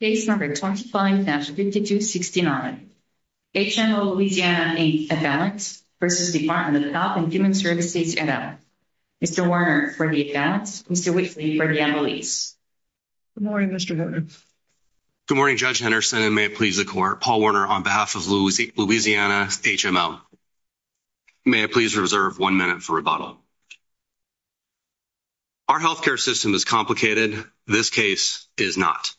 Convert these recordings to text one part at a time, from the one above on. Case No. 25-5269, HMO Louisiana, Inc. v. Department of Health and Human Services, NL. Mr. Werner, for the advance. Mr. Whitley, for the emblace. Good morning, Mr. Henderson. Good morning, Judge Henderson, and may it please the Court. Paul Werner, on behalf of Louisiana HMO. May I please reserve one minute for rebuttal. Our health care system is complicated. This case is not.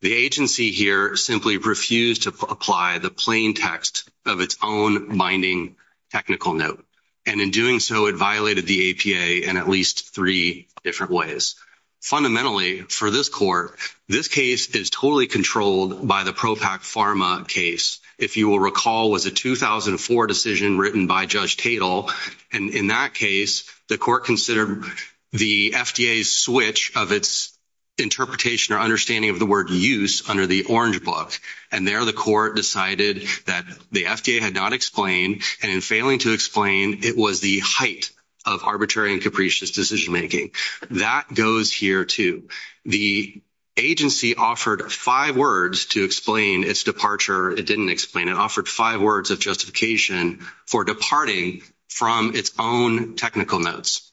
The agency here simply refused to apply the plain text of its own binding technical note. And in doing so, it violated the APA in at least three different ways. Fundamentally, for this Court, this case is totally controlled by the PROPAC Pharma case. If you will recall, it was a 2004 decision written by Judge Tatel. And in that case, the Court considered the FDA's switch of its interpretation or understanding of the word use under the Orange Book. And there the Court decided that the FDA had not explained, and in failing to explain, it was the height of arbitrary and capricious decision-making. That goes here, too. The agency offered five words to explain its departure. It didn't explain. It offered five words of justification for departing from its own technical notes.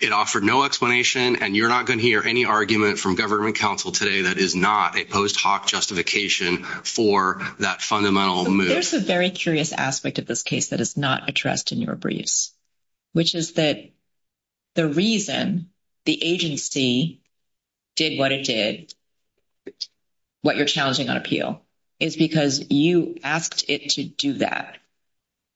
It offered no explanation, and you're not going to hear any argument from government counsel today that is not a post hoc justification for that fundamental move. There's a very curious aspect of this case that is not addressed in your briefs, which is that the reason the agency did what it did, what you're challenging on appeal, is because you asked it to do that.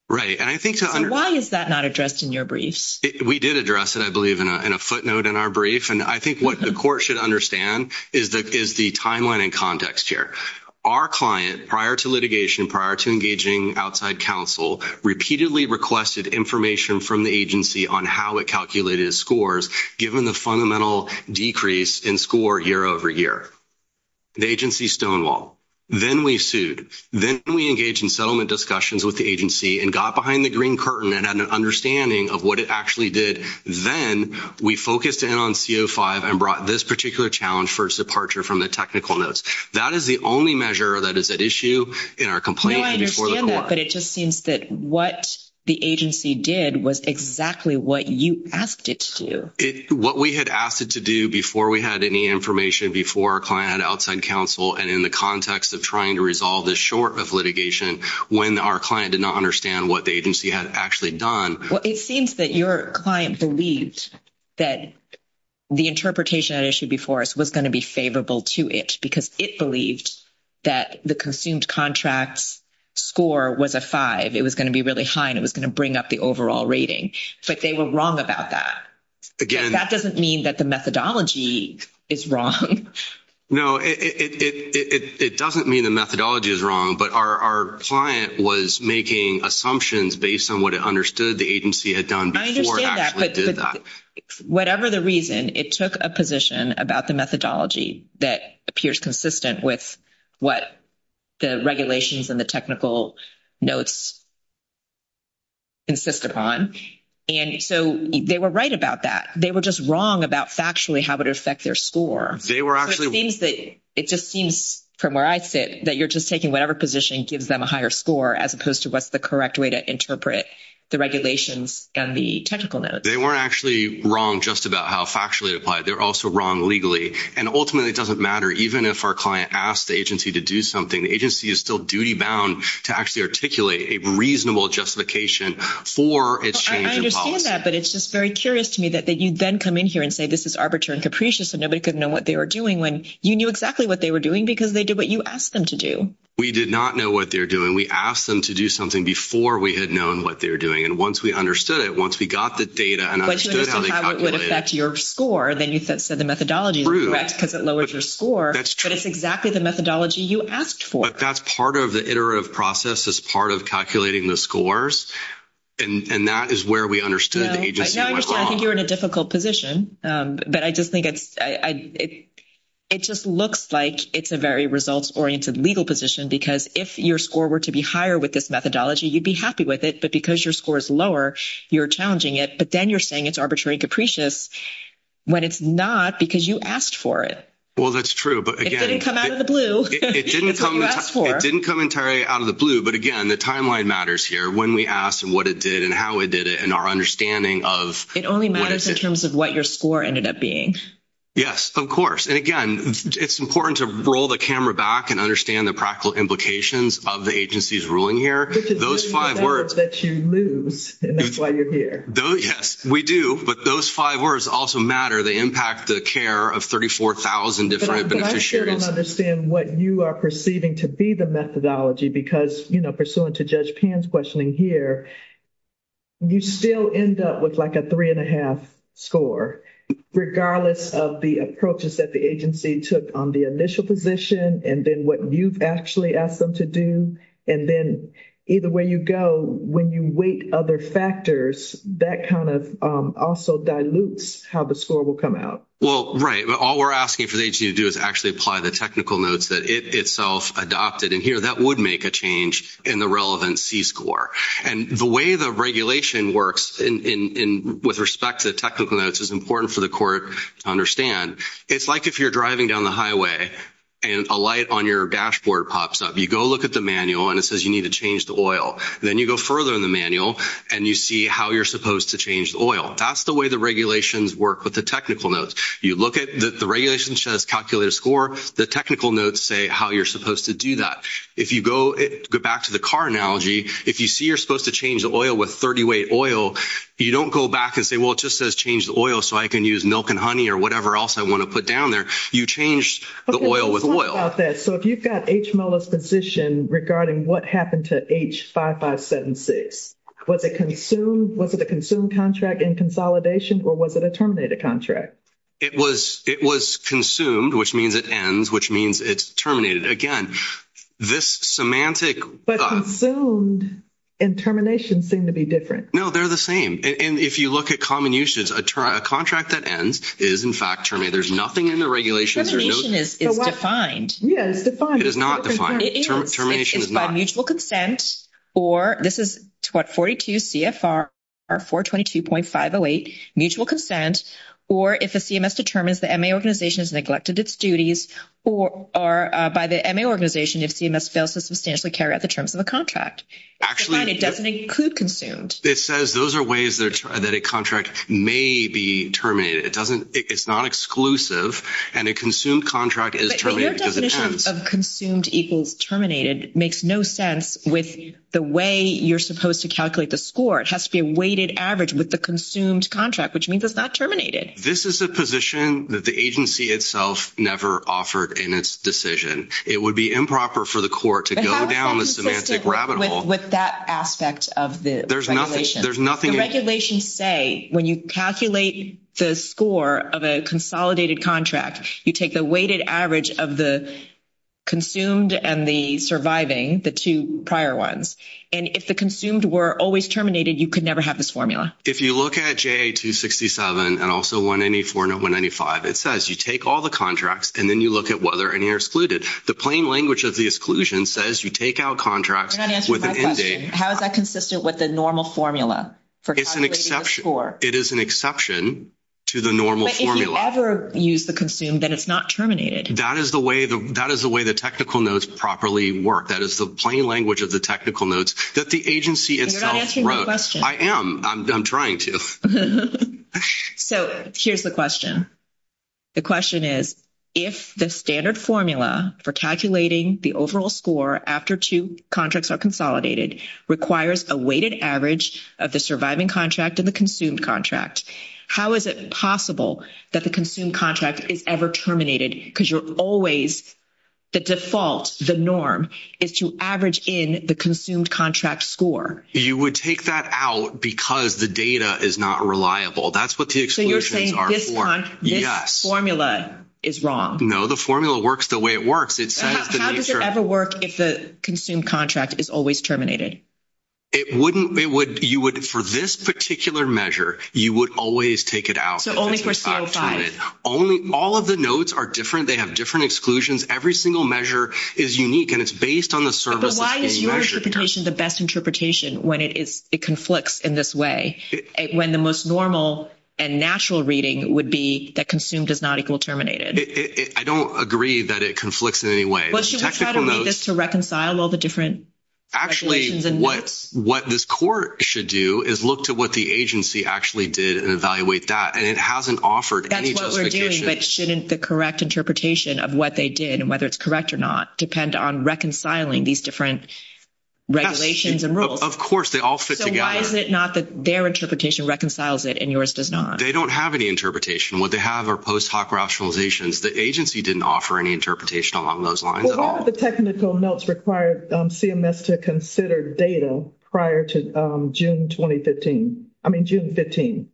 So why is that not addressed in your briefs? We did address it, I believe, in a footnote in our brief. And I think what the Court should understand is the timeline and context here. Our client, prior to litigation, prior to engaging outside counsel, repeatedly requested information from the agency on how it calculated its scores, given the fundamental decrease in score year over year. The agency stonewalled. Then we sued. Then we engaged in settlement discussions with the agency and got behind the green curtain and had an understanding of what it actually did. Then we focused in on C05 and brought this particular challenge for its departure from the technical notes. That is the only measure that is at issue in our complaint before the Court. No, I understand that, but it just seems that what the agency did was exactly what you asked it to do. What we had asked it to do before we had any information, before our client had outside counsel, and in the context of trying to resolve this short of litigation when our client did not understand what the agency had actually done. Well, it seems that your client believed that the interpretation at issue before us was going to be favorable to it because it believed that the consumed contracts score was a 5. It was going to be really high and it was going to bring up the overall rating. But they were wrong about that. That doesn't mean that the methodology is wrong. No, it doesn't mean the methodology is wrong, but our client was making assumptions based on what it understood the agency had done before it actually did that. I understand that, but whatever the reason, it took a position about the methodology that appears consistent with what the regulations and the technical notes insist upon. So they were right about that. They were just wrong about factually how it would affect their score. It just seems from where I sit that you're just taking whatever position gives them a higher score as opposed to what's the correct way to interpret the regulations and the technical notes. They weren't actually wrong just about how factually it applied. They were also wrong legally. And ultimately, it doesn't matter even if our client asked the agency to do something. The agency is still duty-bound to actually articulate a reasonable justification for its change in policy. I understand that, but it's just very curious to me that you then come in here and say this is arbitrary and capricious and nobody could know what they were doing when you knew exactly what they were doing because they did what you asked them to do. We did not know what they were doing. We asked them to do something before we had known what they were doing. And once we understood it, once we got the data and understood how they calculated… Once you understood how it would affect your score, then you said the methodology is correct because it lowers your score. That's true. But it's exactly the methodology you asked for. But that's part of the iterative process as part of calculating the scores. And that is where we understood the agency went wrong. Now I understand. I think you're in a difficult position. But I just think it's – it just looks like it's a very results-oriented legal position because if your score were to be higher with this methodology, you'd be happy with it. But because your score is lower, you're challenging it. But then you're saying it's arbitrary and capricious when it's not because you asked for it. Well, that's true. But again… It didn't come out of the blue. It's what you asked for. It didn't come entirely out of the blue. But again, the timeline matters here when we ask what it did and how it did it and our understanding of… It only matters in terms of what your score ended up being. Yes, of course. And again, it's important to roll the camera back and understand the practical implications of the agency's ruling here. Those five words… …that you lose, and that's why you're here. Yes, we do. But those five words also matter. They impact the care of 34,000 different beneficiaries. I'm not sure I don't understand what you are perceiving to be the methodology because, you know, pursuant to Judge Pan's questioning here, you still end up with like a three-and-a-half score, regardless of the approaches that the agency took on the initial position and then what you've actually asked them to do. And then either way you go, when you weight other factors, that kind of also dilutes how the score will come out. Well, right. All we're asking for the agency to do is actually apply the technical notes that it itself adopted. And here that would make a change in the relevant C score. And the way the regulation works with respect to the technical notes is important for the court to understand. It's like if you're driving down the highway and a light on your dashboard pops up. You go look at the manual, and it says you need to change the oil. Then you go further in the manual, and you see how you're supposed to change the oil. That's the way the regulations work with the technical notes. You look at the regulation, it says calculate a score. The technical notes say how you're supposed to do that. If you go back to the car analogy, if you see you're supposed to change the oil with 30-weight oil, you don't go back and say, well, it just says change the oil so I can use milk and honey or whatever else I want to put down there. You change the oil with oil. Let's talk about that. So if you've got H. Molo's position regarding what happened to H. 5576, was it a consumed contract in consolidation, or was it a terminated contract? It was consumed, which means it ends, which means it's terminated. Again, this semantic – But consumed and termination seem to be different. No, they're the same. If you look at common usage, a contract that ends is, in fact, terminated. There's nothing in the regulations. Termination is defined. Yes, it's defined. It is not defined. Termination is not. Or this is what, 42 CFR 422.508, mutual consent, or if a CMS determines the MA organization has neglected its duties, or by the MA organization, if CMS fails to substantially carry out the terms of a contract. It's defined. It doesn't include consumed. It says those are ways that a contract may be terminated. It's not exclusive, and a consumed contract is terminated because it ends. Consumed equals terminated makes no sense with the way you're supposed to calculate the score. It has to be a weighted average with the consumed contract, which means it's not terminated. This is a position that the agency itself never offered in its decision. It would be improper for the court to go down the semantic rabbit hole. But how consistent with that aspect of the regulation? There's nothing – The regulations say when you calculate the score of a consolidated contract, you take the weighted average of the consumed and the surviving, the two prior ones. And if the consumed were always terminated, you could never have this formula. If you look at JA 267 and also 194 and 195, it says you take all the contracts and then you look at whether any are excluded. The plain language of the exclusion says you take out contracts with an end date. You're not answering my question. How is that consistent with the normal formula for calculating the score? It's an exception. It is an exception to the normal formula. But if you ever use the consumed, then it's not terminated. That is the way the technical notes properly work. That is the plain language of the technical notes that the agency itself wrote. And you're not answering my question. I am. I'm trying to. So here's the question. The question is, if the standard formula for calculating the overall score after two contracts are consolidated requires a weighted average of the surviving contract and the consumed contract, how is it possible that the consumed contract is ever terminated? Because you're always the default, the norm, is to average in the consumed contract score. You would take that out because the data is not reliable. That's what the exclusions are for. So you're saying this formula is wrong? No, the formula works the way it works. How does it ever work if the consumed contract is always terminated? For this particular measure, you would always take it out. So only for CO5. All of the notes are different. They have different exclusions. Every single measure is unique, and it's based on the service that's being measured. But why is your interpretation the best interpretation when it conflicts in this way, when the most normal and natural reading would be that consumed is not equal terminated? I don't agree that it conflicts in any way. Well, should we try to read this to reconcile all the different regulations and notes? Actually, what this court should do is look to what the agency actually did and evaluate that, and it hasn't offered any justification. That's what we're doing, but shouldn't the correct interpretation of what they did and whether it's correct or not depend on reconciling these different regulations and rules? Of course, they all fit together. So why is it not that their interpretation reconciles it and yours does not? They don't have any interpretation. What they have are post hoc rationalizations. The agency didn't offer any interpretation along those lines at all. Well, why would the technical notes require CMS to consider data prior to June 2015? I mean June 15.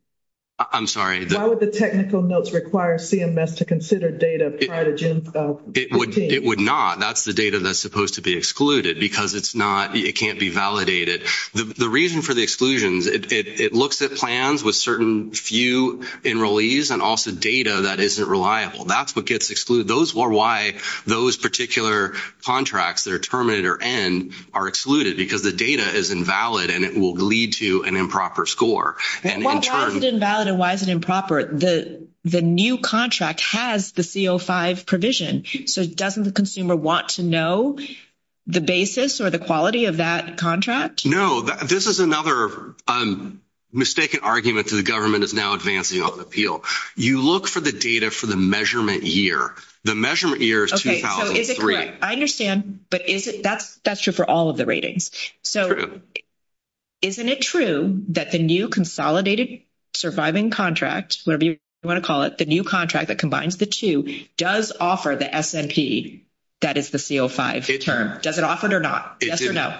I'm sorry. Why would the technical notes require CMS to consider data prior to June 15? It would not. That's the data that's supposed to be excluded because it can't be validated. The reason for the exclusions, it looks at plans with certain few enrollees and also data that isn't reliable. That's what gets excluded. Those are why those particular contracts that are terminated or end are excluded because the data is invalid and it will lead to an improper score. Well, why is it invalid and why is it improper? The new contract has the CO5 provision, so doesn't the consumer want to know the basis or the quality of that contract? No. This is another mistaken argument that the government is now advancing on the appeal. You look for the data for the measurement year. The measurement year is 2003. Okay, so is it correct? I understand, but that's true for all of the ratings. True. So isn't it true that the new consolidated surviving contract, whatever you want to call it, the new contract that combines the two, does offer the S&P, that is the CO5 term? Does it offer it or not? Yes or no?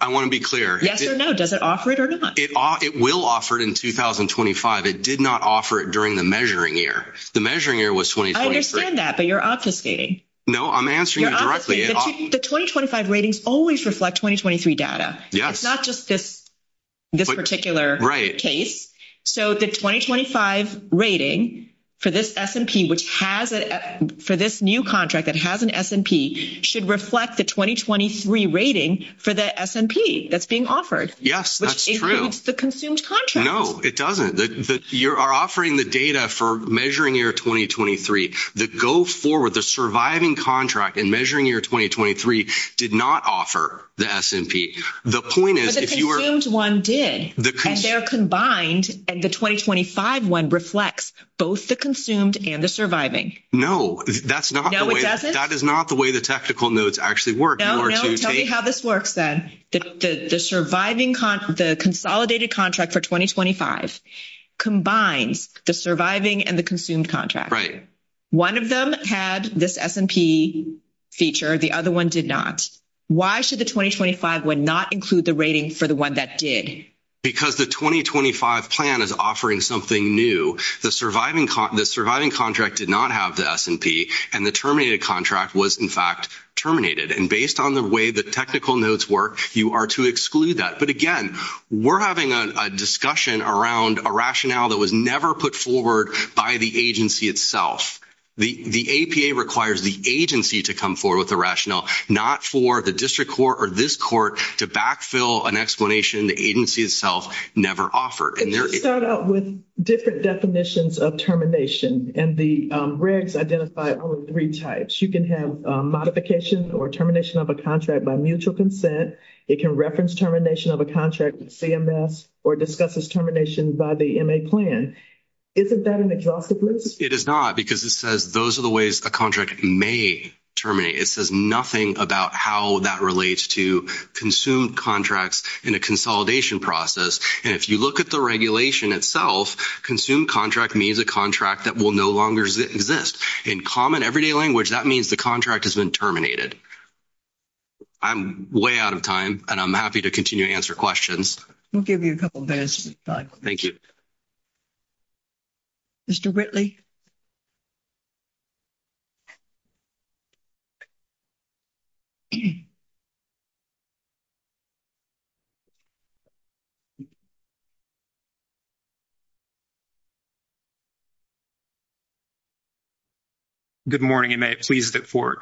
I want to be clear. Yes or no? Does it offer it or not? It will offer it in 2025. It did not offer it during the measuring year. The measuring year was 2023. I understand that, but you're obfuscating. No, I'm answering you directly. The 2025 ratings always reflect 2023 data. Yes. It's not just this particular case. Right. So the 2025 rating for this S&P, which has it for this new contract that has an S&P, should reflect the 2023 rating for the S&P that's being offered. Yes, that's true. Which includes the consumed contract. No, it doesn't. You are offering the data for measuring year 2023. The go forward, the surviving contract in measuring year 2023 did not offer the S&P. The point is if you were – But the consumed one did. And they're combined, and the 2025 one reflects both the consumed and the surviving. No, that's not the way – No, it doesn't? That is not the way the technical notes actually work. No, no. Tell me how this works then. The surviving – the consolidated contract for 2025 combines the surviving and the consumed contract. Right. One of them had this S&P feature. The other one did not. Why should the 2025 one not include the rating for the one that did? Because the 2025 plan is offering something new. The surviving contract did not have the S&P, and the terminated contract was, in fact, terminated. And based on the way the technical notes work, you are to exclude that. But, again, we're having a discussion around a rationale that was never put forward by the agency itself. The APA requires the agency to come forward with the rationale, not for the district court or this court to backfill an explanation the agency itself never offered. It does start out with different definitions of termination, and the regs identify all three types. You can have modification or termination of a contract by mutual consent. It can reference termination of a contract with CMS or discuss its termination by the MA plan. Isn't that an exhaustive list? It is not because it says those are the ways a contract may terminate. It says nothing about how that relates to consumed contracts in a consolidation process. And if you look at the regulation itself, consumed contract means a contract that will no longer exist. In common, everyday language, that means the contract has been terminated. I'm way out of time, and I'm happy to continue to answer questions. We'll give you a couple minutes. Thank you. Mr. Whitley? Good morning, and may it please the Court.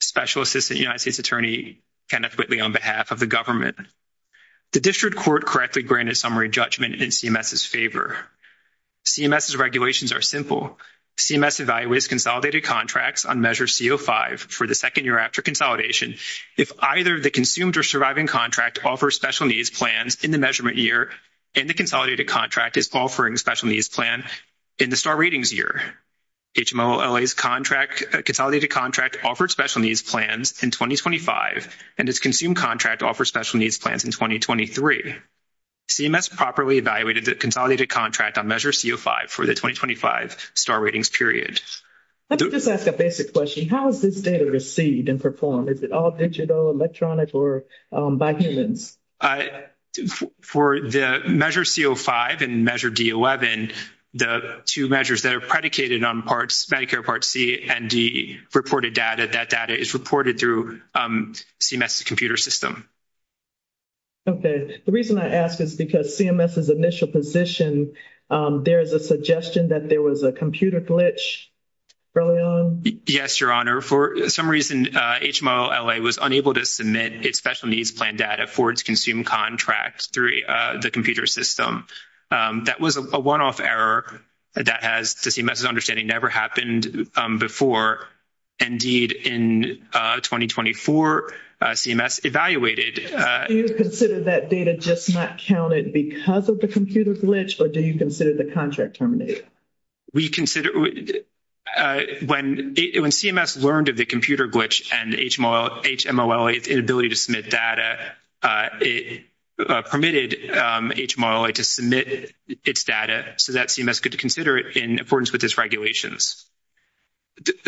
Special Assistant United States Attorney Kenneth Whitley on behalf of the government. The district court correctly granted summary judgment in CMS's favor. CMS's regulations are simple. CMS evaluates consolidated contracts on Measure C05 for the second year after consolidation if either the consumed or surviving contract offers special needs plans in the measurement year and the consolidated contract is offering a special needs plan in the star ratings year. HMOLA's consolidated contract offered special needs plans in 2025, and its consumed contract offered special needs plans in 2023. CMS properly evaluated the consolidated contract on Measure C05 for the 2025 star ratings period. Let me just ask a basic question. How is this data received and performed? Is it all digital, electronic, or by humans? For the Measure C05 and Measure D11, the two measures that are predicated on Medicare Part C and D reported data, that data is reported through CMS's computer system. Okay. The reason I ask is because CMS's initial position, there is a suggestion that there was a computer glitch early on? Yes, Your Honor. For some reason, HMOLA was unable to submit its special needs plan data for its consumed contract through the computer system. That was a one-off error that has, to CMS's understanding, never happened before. Indeed, in 2024, CMS evaluated. Do you consider that data just not counted because of the computer glitch, or do you consider the contract terminated? When CMS learned of the computer glitch and HMOLA's inability to submit data, it permitted HMOLA to submit its data so that CMS could consider it in accordance with its regulations.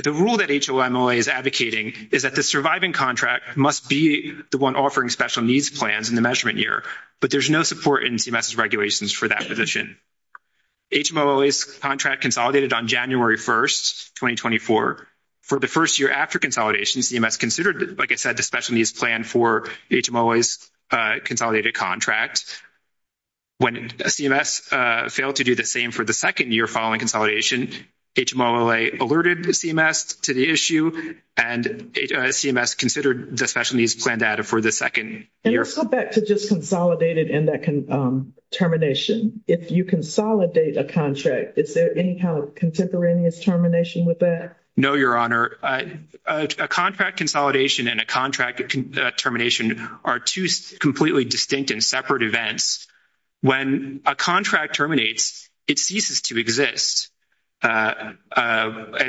The rule that HMOLA is advocating is that the surviving contract must be the one offering special needs plans in the measurement year, but there's no support in CMS's regulations for that position. HMOLA's contract consolidated on January 1, 2024. For the first year after consolidation, CMS considered, like I said, the special needs plan for HMOLA's consolidated contract. When CMS failed to do the same for the second year following consolidation, HMOLA alerted CMS to the issue, and CMS considered the special needs plan data for the second year. Let's go back to just consolidated and that termination. If you consolidate a contract, is there any kind of contemporaneous termination with that? No, Your Honor. A contract consolidation and a contract termination are two completely distinct and separate events. When a contract terminates, it ceases to exist. A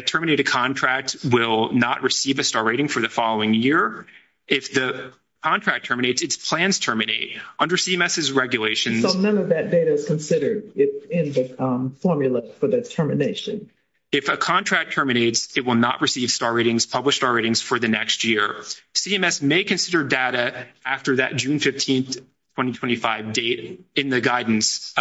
terminated contract will not receive a star rating for the following year. If the contract terminates, its plans terminate. Under CMS's regulations — So none of that data is considered in the formula for the termination. If a contract terminates, it will not receive star ratings, published star ratings, for the next year. CMS may consider data after that June 15, 2025 date in the guidance,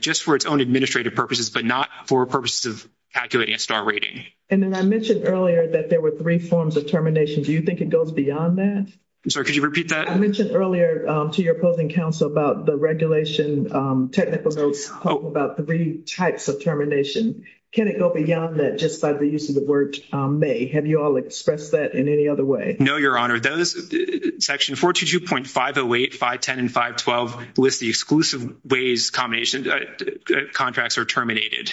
just for its own administrative purposes, but not for purposes of calculating a star rating. And then I mentioned earlier that there were three forms of termination. Do you think it goes beyond that? I'm sorry, could you repeat that? I mentioned earlier to your opposing counsel about the regulation technical notes about three types of termination. Can it go beyond that just by the use of the word may? Have you all expressed that in any other way? No, Your Honor. Section 422.508, 510, and 512 list the exclusive ways contracts are terminated.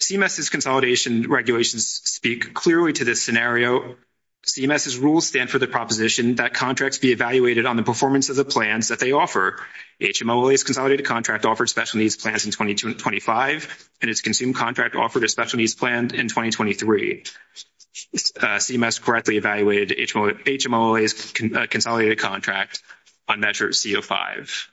CMS's consolidation regulations speak clearly to this scenario. CMS's rules stand for the proposition that contracts be evaluated on the performance of the plans that they offer. HMOLA's consolidated contract offered special needs plans in 2025, and its consumed contract offered a special needs plan in 2023. CMS correctly evaluated HMOLA's consolidated contract on Measure C05.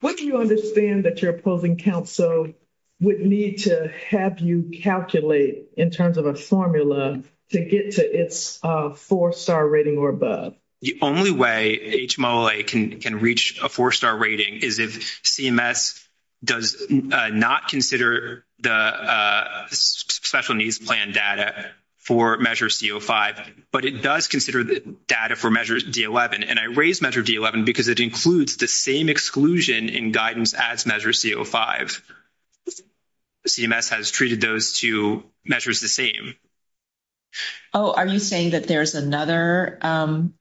What do you understand that your opposing counsel would need to have you calculate in terms of a formula to get to its four-star rating or above? The only way HMOLA can reach a four-star rating is if CMS does not consider the special needs plan data for Measure C05, but it does consider the data for Measure D11. I raise Measure D11 because it includes the same exclusion in guidance as Measure C05. CMS has treated those two measures the same. Oh, are you saying that there's another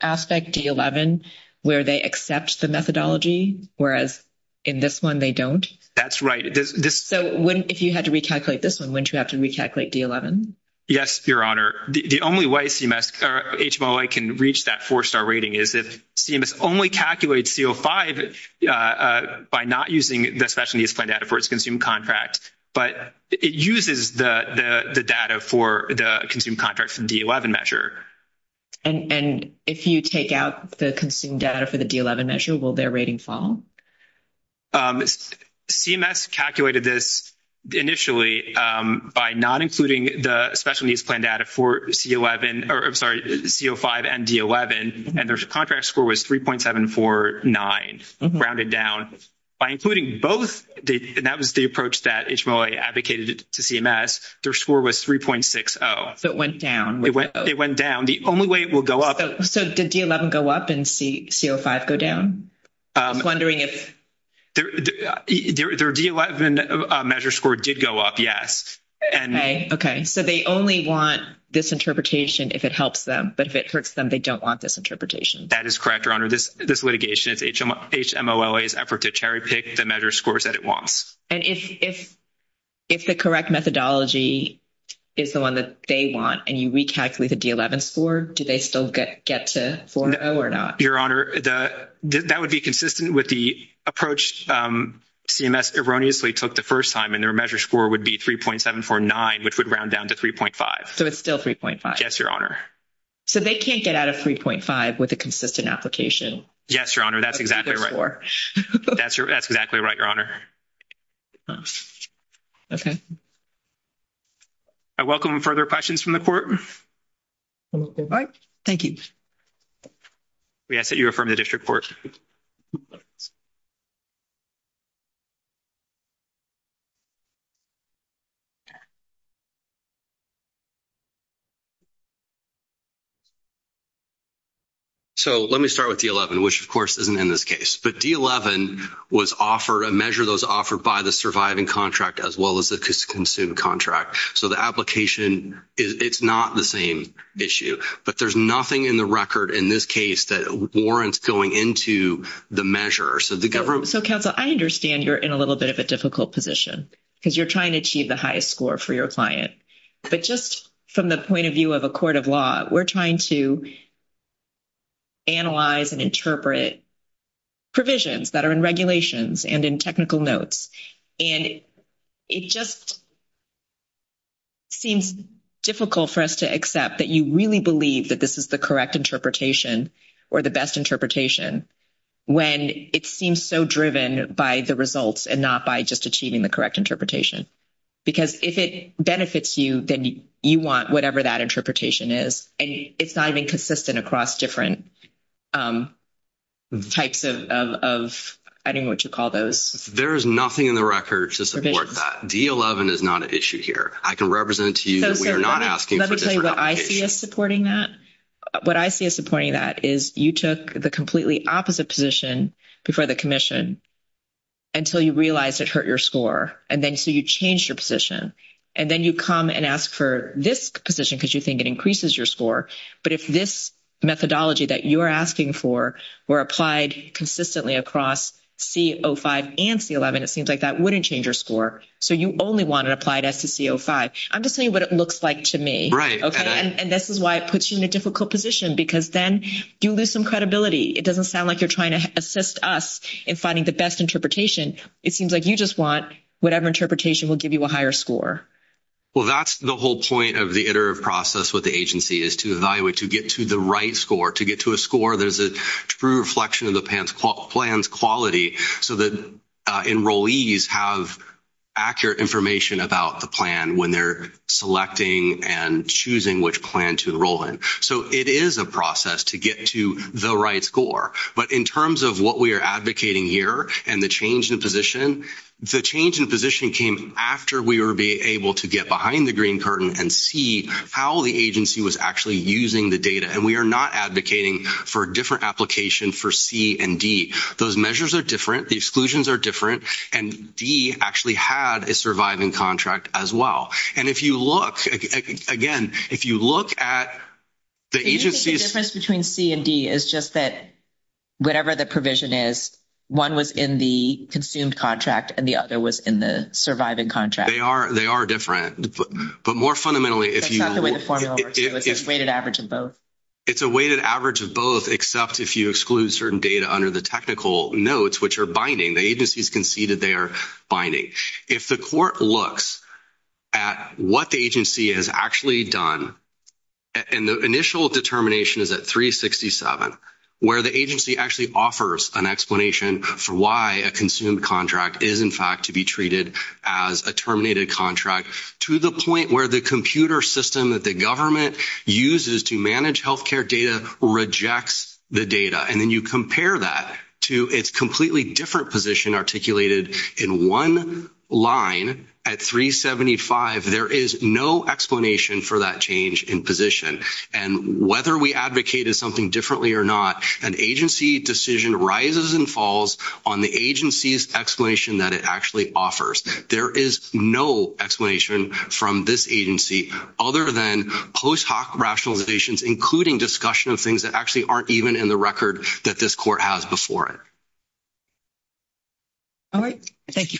aspect, D11, where they accept the methodology, whereas in this one they don't? That's right. So if you had to recalculate this one, wouldn't you have to recalculate D11? Yes, Your Honor. The only way HMOLA can reach that four-star rating is if CMS only calculates C05 by not using the special needs plan data for its consumed contract, but it uses the data for the consumed contract for the D11 measure. And if you take out the consumed data for the D11 measure, will their rating fall? CMS calculated this initially by not including the special needs plan data for C11 or, I'm sorry, C05 and D11, and their contract score was 3.749, grounded down. By including both, and that was the approach that HMOLA advocated to CMS, their score was 3.60. So it went down. It went down. The only way it will go up— So did D11 go up and C05 go down? I was wondering if— Their D11 measure score did go up, yes. Okay. Okay, so they only want this interpretation if it helps them, but if it hurts them, they don't want this interpretation. That is correct, Your Honor. This litigation is HMOLA's effort to cherry-pick the measure scores that it wants. And if the correct methodology is the one that they want and you recalculate the D11 score, do they still get to 4.0 or not? Your Honor, that would be consistent with the approach CMS erroneously took the first time, and their measure score would be 3.749, which would round down to 3.5. So it's still 3.5. Yes, Your Honor. So they can't get out of 3.5 with a consistent application? Yes, Your Honor. That's exactly right. That's exactly right, Your Honor. Okay. I welcome further questions from the Court. All right. Thank you. We ask that you affirm the District Court. Okay. So let me start with D11, which, of course, isn't in this case. But D11 was offered, a measure that was offered by the surviving contract as well as the consumed contract. So the application, it's not the same issue. But there's nothing in the record in this case that warrants going into the measure. So, Counsel, I understand you're in a little bit of a difficult position because you're trying to achieve the highest score for your client. But just from the point of view of a court of law, we're trying to analyze and interpret provisions that are in regulations and in technical notes. And it just seems difficult for us to accept that you really believe that this is the correct interpretation or the best interpretation when it seems so driven by the results and not by just achieving the correct interpretation. Because if it benefits you, then you want whatever that interpretation is. And it's not even consistent across different types of, I don't know what you call those. There is nothing in the record to support that. D11 is not an issue here. I can represent to you that we are not asking for a different application. Let me tell you what I see as supporting that. What I see as supporting that is you took the completely opposite position before the commission until you realized it hurt your score. And then so you changed your position. And then you come and ask for this position because you think it increases your score. But if this methodology that you are asking for were applied consistently across C05 and C11, it seems like that wouldn't change your score. So you only want it applied as to C05. I'm just saying what it looks like to me. And this is why it puts you in a difficult position because then you lose some credibility. It doesn't sound like you're trying to assist us in finding the best interpretation. It seems like you just want whatever interpretation will give you a higher score. Well, that's the whole point of the iterative process with the agency is to evaluate, to get to the right score, to get to a score that is a true reflection of the plan's quality so that enrollees have accurate information about the plan when they're selecting and choosing which plan to enroll in. So it is a process to get to the right score. But in terms of what we are advocating here and the change in position, the change in position came after we were able to get behind the green curtain and see how the agency was actually using the data. And we are not advocating for a different application for C and D. Those measures are different. The exclusions are different. And D actually had a surviving contract as well. And if you look, again, if you look at the agency's – Do you think the difference between C and D is just that whatever the provision is, one was in the consumed contract and the other was in the surviving contract? They are different. But more fundamentally, if you – That's not the way the formula works. It's a weighted average of both. Except if you exclude certain data under the technical notes, which are binding. The agency has conceded they are binding. If the court looks at what the agency has actually done, and the initial determination is at 367, where the agency actually offers an explanation for why a consumed contract is, in fact, to be treated as a terminated contract, to the point where the computer system that the government uses to manage healthcare data rejects the data, and then you compare that to its completely different position articulated in one line at 375, there is no explanation for that change in position. And whether we advocated something differently or not, an agency decision rises and falls on the agency's explanation that it actually offers. There is no explanation from this agency, other than post hoc rationalizations, including discussion of things that actually aren't even in the record that this court has before it. All right. Thank you.